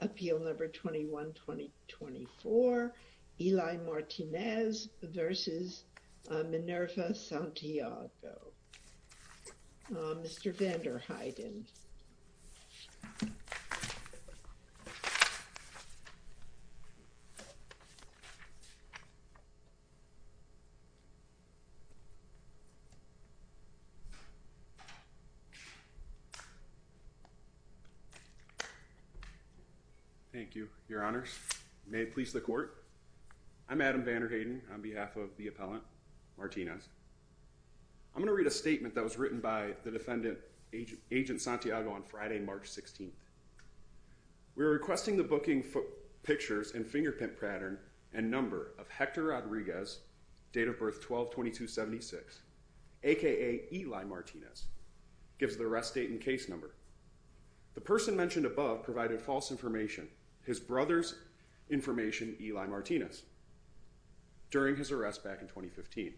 Appeal number 21-2024, Eli Martinez v. Minerva Santiago. Mr. Vander Heiden. Thank you, your honors. May it please the court. I'm Adam Vander Heiden on behalf of the appellant, Martinez. I'm going to read a statement that was written by the defendant, Agent Santiago, on Friday, March 16th. We are requesting the booking pictures and fingerprint pattern and number of Hector Rodriguez, date of birth 12-22-76, a.k.a. Eli Martinez, gives the arrest date and case number. The person mentioned above provided false information, his brother's information, Eli Martinez, during his arrest back in 2015.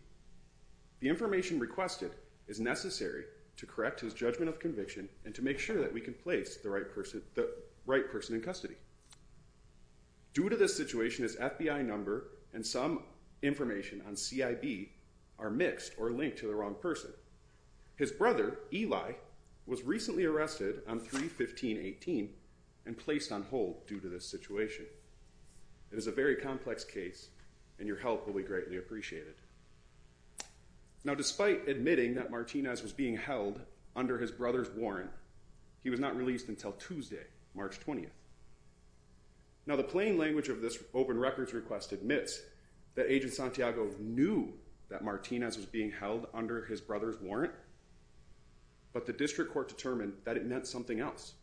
The information requested is necessary to correct his judgment of conviction and to make sure that we can place the right person in custody. Due to this situation, his FBI number and some information on CIB are mixed or linked to the wrong person. His brother, Eli, was recently arrested on 3-15-18 and placed on hold due to this situation. It is a very complex case and your help will be greatly appreciated. Now, despite admitting that Martinez was being held under his brother's warrant, he was not released until Tuesday, March 20th. Now, the plain language of this open records request admits that Agent Santiago knew that Martinez was being held under his brother's warrant, but the district court determined that it meant something else.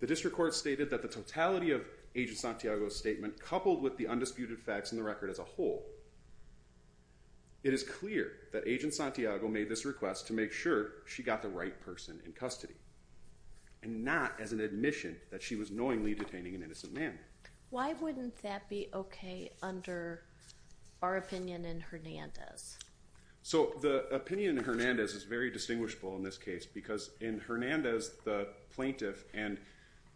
The district court stated that the totality of Agent Santiago's statement, coupled with the undisputed facts in the record as a whole, it is clear that Agent Santiago made this request to make sure she got the right person in custody and not as an admission that she was knowingly detaining an innocent man. Why wouldn't that be okay under our opinion in Hernandez? So, the opinion in Hernandez is very distinguishable in this case because in Hernandez, the plaintiff and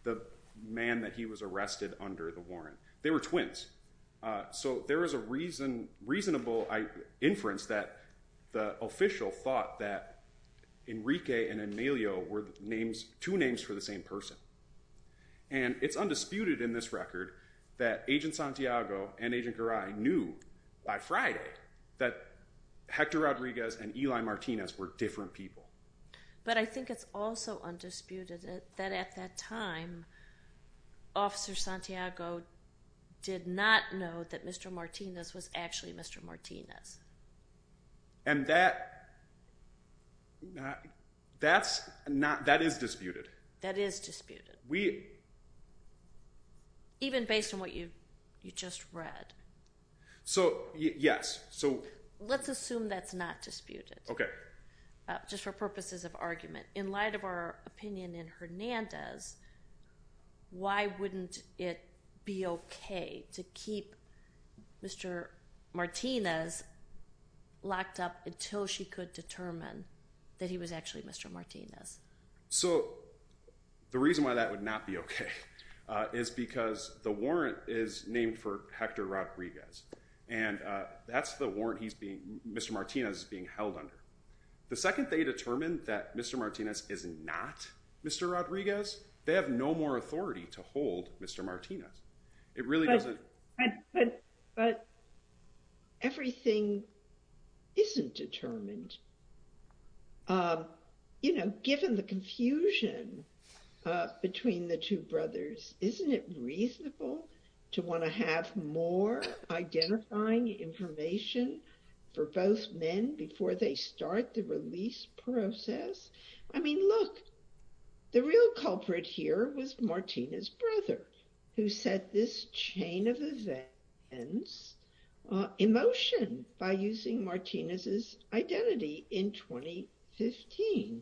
the man that he was arrested under the warrant, they were twins. So, there is a reasonable inference that the official thought that Enrique and Enelio were two names for the same person. And it's undisputed in this record that Agent Santiago and Agent Garay knew by Friday that Hector Rodriguez and Eli Martinez were different people. But I think it's also undisputed that at that time, Officer Santiago did not know that Mr. Martinez was actually Mr. Martinez. And that is disputed. That is disputed, even based on what you just read. So, yes. Let's assume that's not disputed, just for purposes of argument. In light of our opinion in Hernandez, why wouldn't it be okay to keep Mr. Martinez locked up until she could determine that he was actually Mr. Martinez? So, the reason why that would not be okay is because the warrant is named for Hector Rodriguez. And that's the warrant Mr. Martinez is being held under. The second they determine that Mr. Martinez is not Mr. Rodriguez, they have no more authority to hold Mr. Martinez. But everything isn't determined. You know, given the confusion between the two brothers, isn't it reasonable to want to have more identifying information for both men before they start the release process? I mean, look, the real culprit here was Martinez's brother, who set this chain of events in motion by using Martinez's identity in 2015.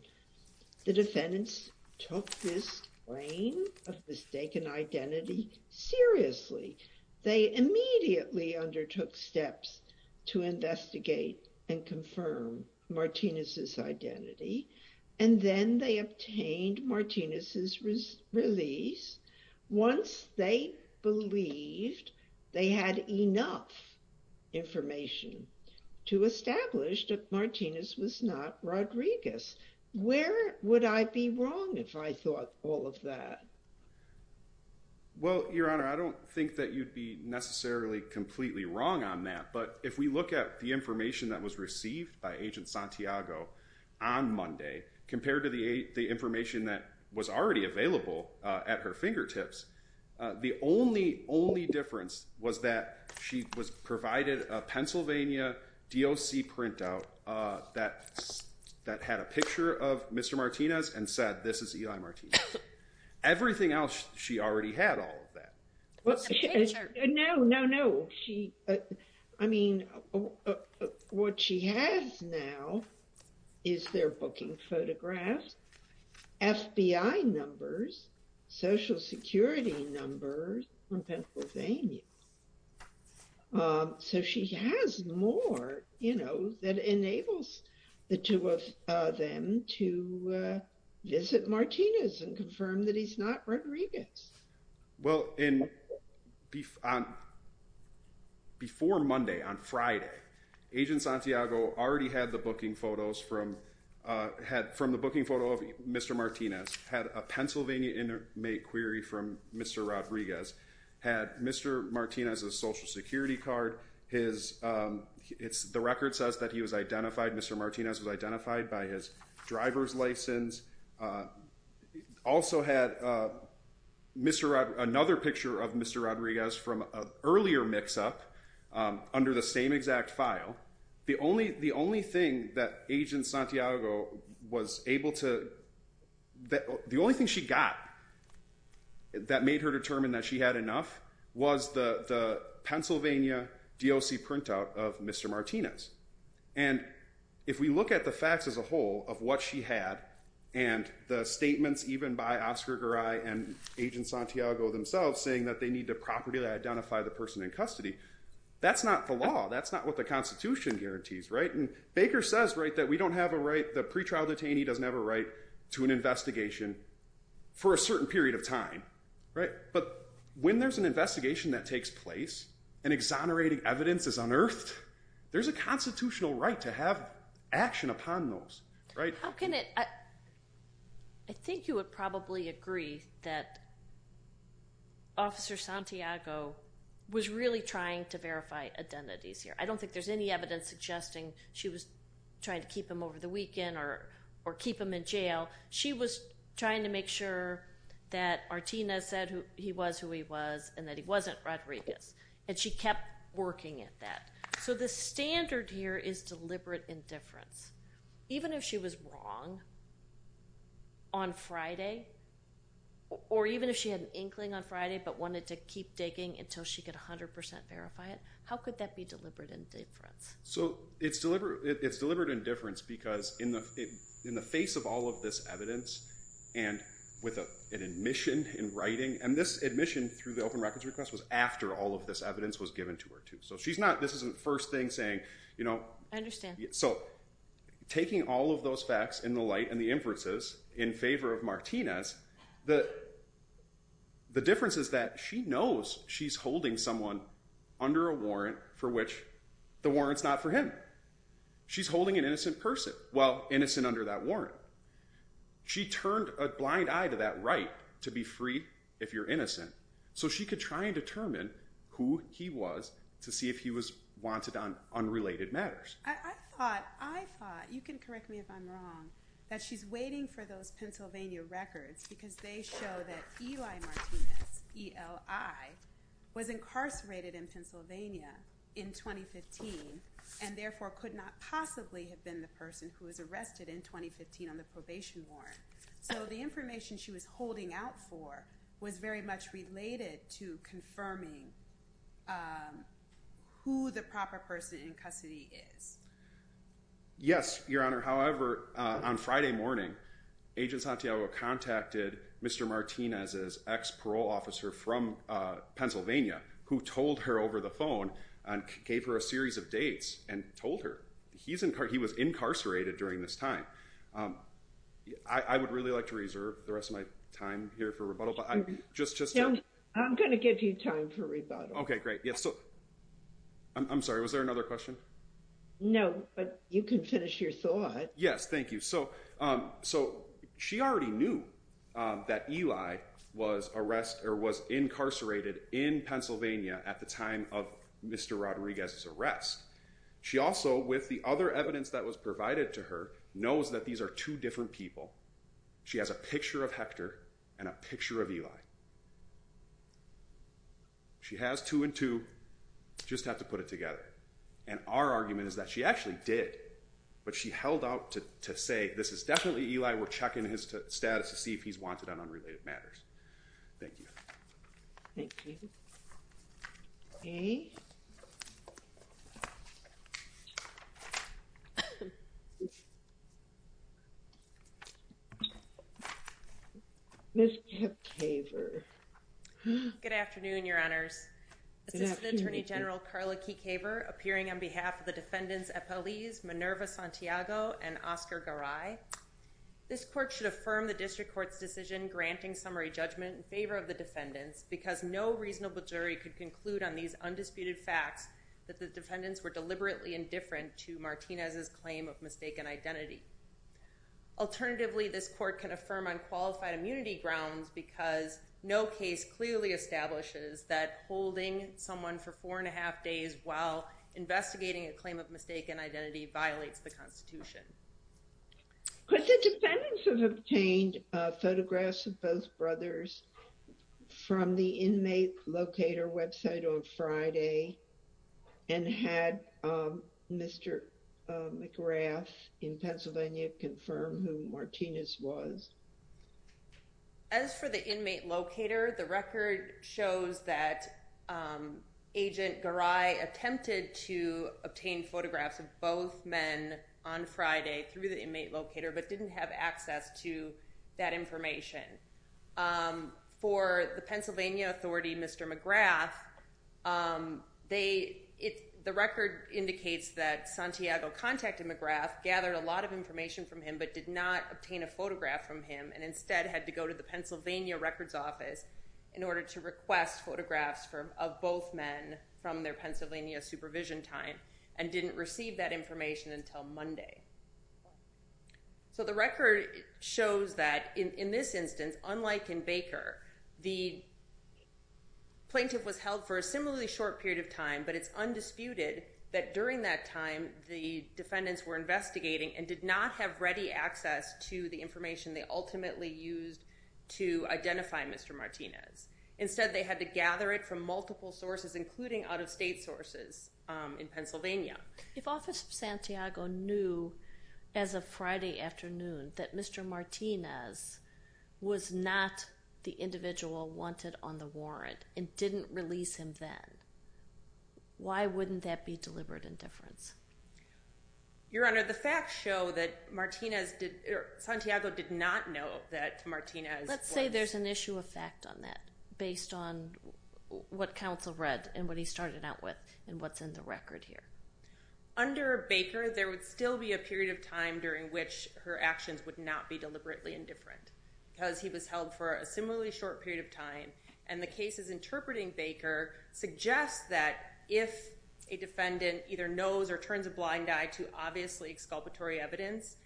The defendants took this claim of mistaken identity seriously. They immediately undertook steps to investigate and confirm Martinez's identity. And then they obtained Martinez's release once they believed they had enough information to establish that Martinez was not Rodriguez. Where would I be wrong if I thought all of that? Well, Your Honor, I don't think that you'd be necessarily completely wrong on that. But if we look at the information that was received by Agent Santiago on Monday, compared to the information that was already available at her fingertips, the only difference was that she was provided a Pennsylvania DOC printout that had a picture of Mr. Martinez and said, this is Eli Martinez. Everything else, she already had all of that. No, no, no. I mean, what she has now is their booking photographs, FBI numbers, Social Security numbers from Pennsylvania. So she has more, you know, that enables the two of them to visit Martinez and confirm that he's not Rodriguez. Well, before Monday, on Friday, Agent Santiago already had the booking photos from the booking photo of Mr. Martinez, had a Pennsylvania inmate query from Mr. Rodriguez, had Mr. Martinez's Social Security card. The record says that he was identified, Mr. Martinez was identified by his driver's license. Also had another picture of Mr. Rodriguez from an earlier mix-up under the same exact file. The only thing that Agent Santiago was able to, the only thing she got that made her determine that she had enough was the Pennsylvania DOC printout of Mr. Martinez. And if we look at the facts as a whole of what she had, and the statements even by Oscar Garay and Agent Santiago themselves, saying that they need the property to identify the person in custody, that's not the law. That's not what the Constitution guarantees, right? And Baker says, right, that we don't have a right, the pretrial detainee doesn't have a right to an investigation for a certain period of time, right? But when there's an investigation that takes place and exonerating evidence is unearthed, there's a constitutional right to have action upon those, right? How can it, I think you would probably agree that Officer Santiago was really trying to verify identities here. I don't think there's any evidence suggesting she was trying to keep him over the weekend or keep him in jail. She was trying to make sure that Artina said he was who he was and that he wasn't Rodriguez. And she kept working at that. So the standard here is deliberate indifference. Even if she was wrong on Friday, or even if she had an inkling on Friday but wanted to keep digging until she could 100% verify it, how could that be deliberate indifference? So it's deliberate indifference because in the face of all of this evidence and with an admission in writing, and this admission through the open records request was after all of this evidence was given to her too. So she's not, this isn't the first thing saying, you know. I understand. So taking all of those facts in the light and the inferences in favor of Martinez, the difference is that she knows she's holding someone under a warrant for which the warrant's not for him. She's holding an innocent person, well, innocent under that warrant. She turned a blind eye to that right to be freed if you're innocent. So she could try and determine who he was to see if he was wanted on unrelated matters. I thought, I thought, you can correct me if I'm wrong, that she's waiting for those Pennsylvania records because they show that Eli Martinez, E-L-I, was incarcerated in Pennsylvania in 2015 and therefore could not possibly have been the person who was arrested in 2015 on the probation warrant. So the information she was holding out for was very much related to confirming who the proper person in custody is. Yes, Your Honor. However, on Friday morning, Agent Santiago contacted Mr. Martinez's ex-parole officer from Pennsylvania who told her over the phone and gave her a series of dates and told her he was incarcerated during this time. I would really like to reserve the rest of my time here for rebuttal. I'm going to give you time for rebuttal. Okay, great. I'm sorry, was there another question? No, but you can finish your thought. Yes, thank you. So she already knew that Eli was incarcerated in Pennsylvania at the time of Mr. Rodriguez's arrest. She also, with the other evidence that was provided to her, knows that these are two different people. She has a picture of Hector and a picture of Eli. She has two and two. Just have to put it together. And our argument is that she actually did, but she held out to say, this is definitely Eli. We're checking his status to see if he's wanted on unrelated matters. Thank you. Thank you. Okay. Good afternoon, Your Honors. Assistant Attorney General Carla Keecaver, appearing on behalf of the defendants Epeliz, Minerva Santiago, and Oscar Garay. This court should affirm the district court's decision granting summary judgment in favor of the defendants because no reasonable jury could conclude on these undisputed facts that the defendants were deliberately indifferent to Martinez's claim of mistaken identity. Alternatively, this court can affirm on qualified immunity grounds because no case clearly establishes that holding someone for four and a half days while investigating a claim of mistaken identity violates the Constitution. But the defendants have obtained photographs of both brothers from the inmate locator website on Friday and had Mr. McGrath in Pennsylvania confirm who Martinez was. As for the inmate locator, the record shows that Agent Garay attempted to obtain photographs of both men on Friday through the inmate locator, but didn't have access to that information. For the Pennsylvania authority, Mr. McGrath, the record indicates that Santiago contacted McGrath, gathered a lot of information from him, but did not obtain a photograph from him, and instead had to go to the Pennsylvania records office in order to request photographs of both men from their Pennsylvania supervision time and didn't receive that information until Monday. So the record shows that in this instance, unlike in Baker, the plaintiff was held for a similarly short period of time, but it's undisputed that during that time, the defendants were investigating and did not have ready access to the information they ultimately used to identify Mr. Martinez. Instead, they had to gather it from multiple sources, including out-of-state sources in Pennsylvania. If Office of Santiago knew as of Friday afternoon that Mr. Martinez was not the individual wanted on the warrant and didn't release him then, why wouldn't that be deliberate indifference? Your Honor, the facts show that Santiago did not know that Martinez was… Under Baker, there would still be a period of time during which her actions would not be deliberately indifferent because he was held for a similarly short period of time, and the cases interpreting Baker suggest that if a defendant either knows or turns a blind eye to obviously exculpatory evidence,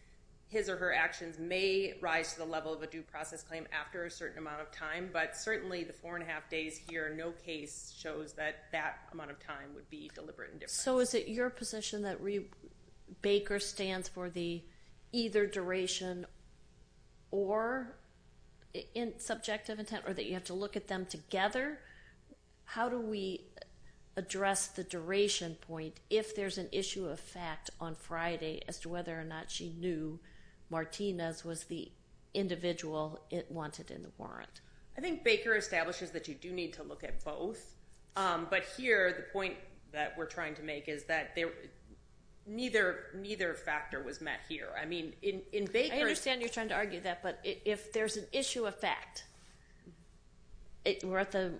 his or her actions may rise to the level of a due process claim after a certain amount of time, but certainly the four and a half days here, no case shows that that amount of time would be deliberate indifference. So is it your position that Baker stands for the either duration or subjective intent or that you have to look at them together? How do we address the duration point if there's an issue of fact on Friday as to whether or not she knew Martinez was the individual wanted in the warrant? I think Baker establishes that you do need to look at both, but here the point that we're trying to make is that neither factor was met here. I mean, in Baker's… I understand you're trying to argue that, but if there's an issue of fact, we're at the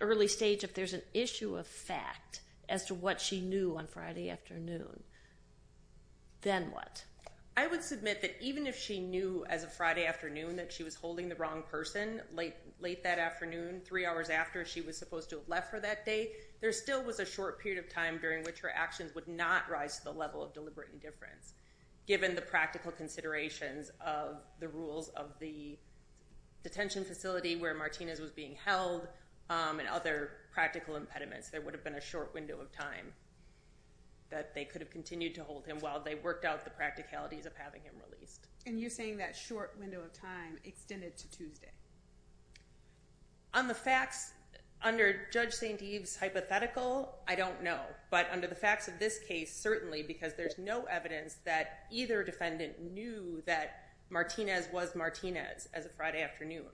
early stage of there's an issue of fact as to what she knew on Friday afternoon, then what? I would submit that even if she knew as of Friday afternoon that she was holding the wrong person, late that afternoon, three hours after she was supposed to have left for that day, there still was a short period of time during which her actions would not rise to the level of deliberate indifference, given the practical considerations of the rules of the detention facility where Martinez was being held and other practical impediments. There would have been a short window of time that they could have continued to hold him while they worked out the practicalities of having him released. And you're saying that short window of time extended to Tuesday? On the facts, under Judge St. Eve's hypothetical, I don't know. But under the facts of this case, certainly, because there's no evidence that either defendant knew that Martinez was Martinez as of Friday afternoon.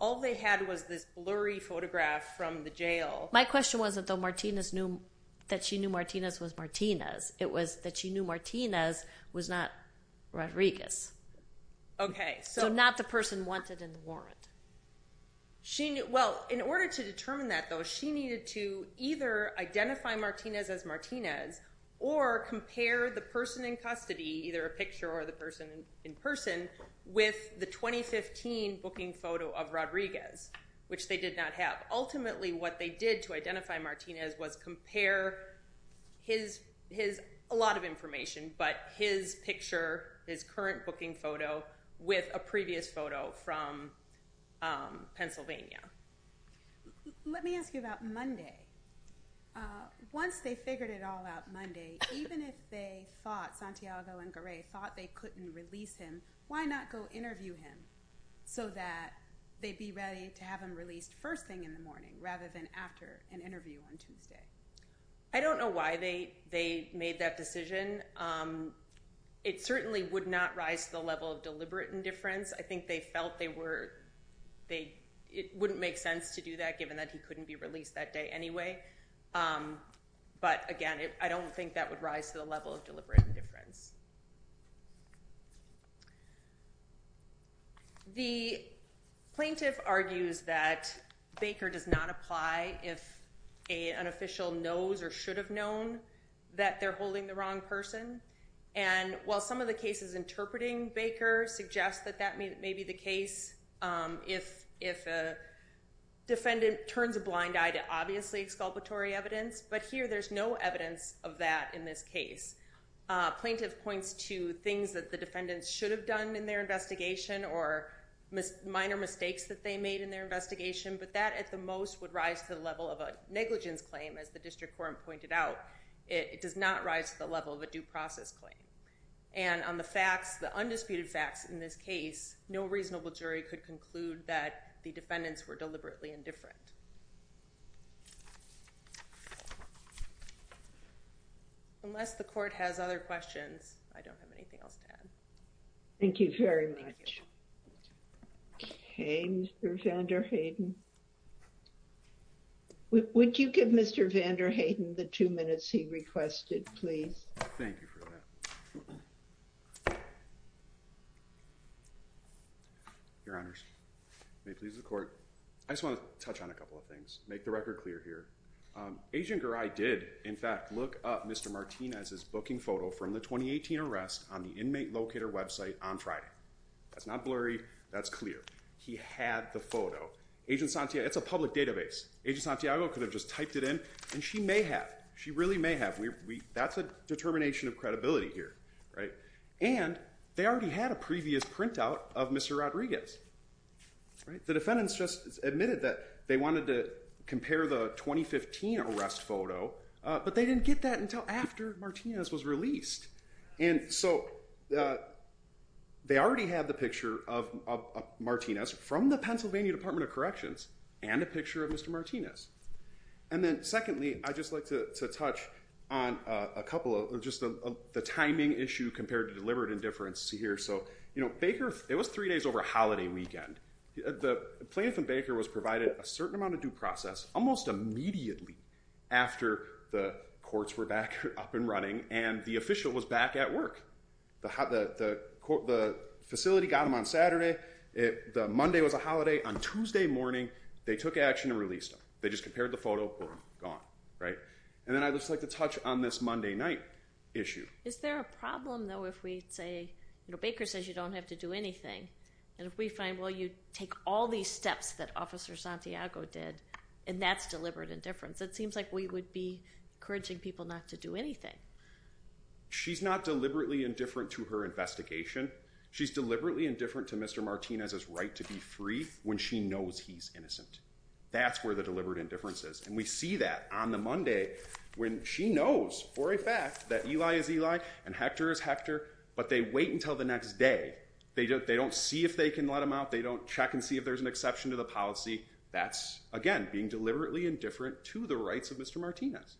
All they had was this blurry photograph from the jail. My question wasn't that she knew Martinez was Martinez. It was that she knew Martinez was not Rodriguez. Okay. So not the person wanted in the warrant. Well, in order to determine that, though, she needed to either identify Martinez as Martinez or compare the person in custody, either a picture or the person in person, with the 2015 booking photo of Rodriguez, which they did not have. Ultimately, what they did to identify Martinez was compare his, a lot of information, but his picture, his current booking photo, with a previous photo from Pennsylvania. Let me ask you about Monday. Once they figured it all out Monday, even if they thought, Santiago and Garay thought they couldn't release him, why not go interview him so that they'd be ready to have him released first thing in the morning rather than after an interview on Tuesday? I don't know why they made that decision. It certainly would not rise to the level of deliberate indifference. I think they felt they were, it wouldn't make sense to do that given that he couldn't be released that day anyway. But, again, I don't think that would rise to the level of deliberate indifference. The plaintiff argues that Baker does not apply if an official knows or should have known that they're holding the wrong person. And while some of the cases interpreting Baker suggest that that may be the case, if a defendant turns a blind eye to obviously exculpatory evidence, but here there's no evidence of that in this case. Plaintiff points to things that the defendants should have done in their investigation or minor mistakes that they made in their investigation, but that at the most would rise to the level of a negligence claim, as the district court pointed out. It does not rise to the level of a due process claim. And on the facts, the undisputed facts in this case, no reasonable jury could conclude that the defendants were deliberately indifferent. Unless the court has other questions, I don't have anything else to add. Thank you very much. Okay, Mr. van der Heyden. Would you give Mr. van der Heyden the two minutes he requested, please? Thank you for that. Your honors, may it please the court. I just want to touch on a couple of things. Make the record clear here. Agent Garai did, in fact, look up Mr. Martinez's booking photo from the 2018 arrest on the inmate locator website on Friday. That's not blurry. That's clear. He had the photo. It's a public database. Agent Santiago could have just typed it in, and she may have. She really may have. That's a determination of credibility here. And they already had a previous printout of Mr. Rodriguez. The defendants just admitted that they wanted to compare the 2015 arrest photo, but they didn't get that until after Martinez was released. And so they already had the picture of Martinez from the Pennsylvania Department of Corrections and a picture of Mr. Martinez. And then secondly, I'd just like to touch on a couple of just the timing issue compared to deliberate indifference here. So, you know, Baker, it was three days over a holiday weekend. The plaintiff and Baker was provided a certain amount of due process almost immediately after the courts were back up and running. And the official was back at work. The facility got him on Saturday. Monday was a holiday. On Tuesday morning, they took action and released him. They just compared the photo, boom, gone, right? And then I'd just like to touch on this Monday night issue. Is there a problem, though, if we say, you know, Baker says you don't have to do anything. And if we find, well, you take all these steps that Officer Santiago did, and that's deliberate indifference, it seems like we would be encouraging people not to do anything. She's not deliberately indifferent to her investigation. She's deliberately indifferent to Mr. Martinez's right to be free when she knows he's innocent. That's where the deliberate indifference is. And we see that on the Monday when she knows for a fact that Eli is Eli and Hector is Hector, but they wait until the next day. They don't see if they can let him out. They don't check and see if there's an exception to the policy. That's, again, being deliberately indifferent to the rights of Mr. Martinez.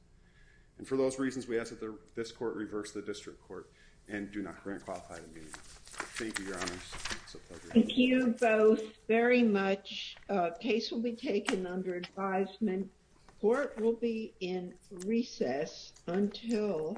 And for those reasons, we ask that this court reverse the district court and do not grant qualified immunity. Thank you, Your Honors. Thank you both very much. Case will be taken under advisement. Court will be in recess until.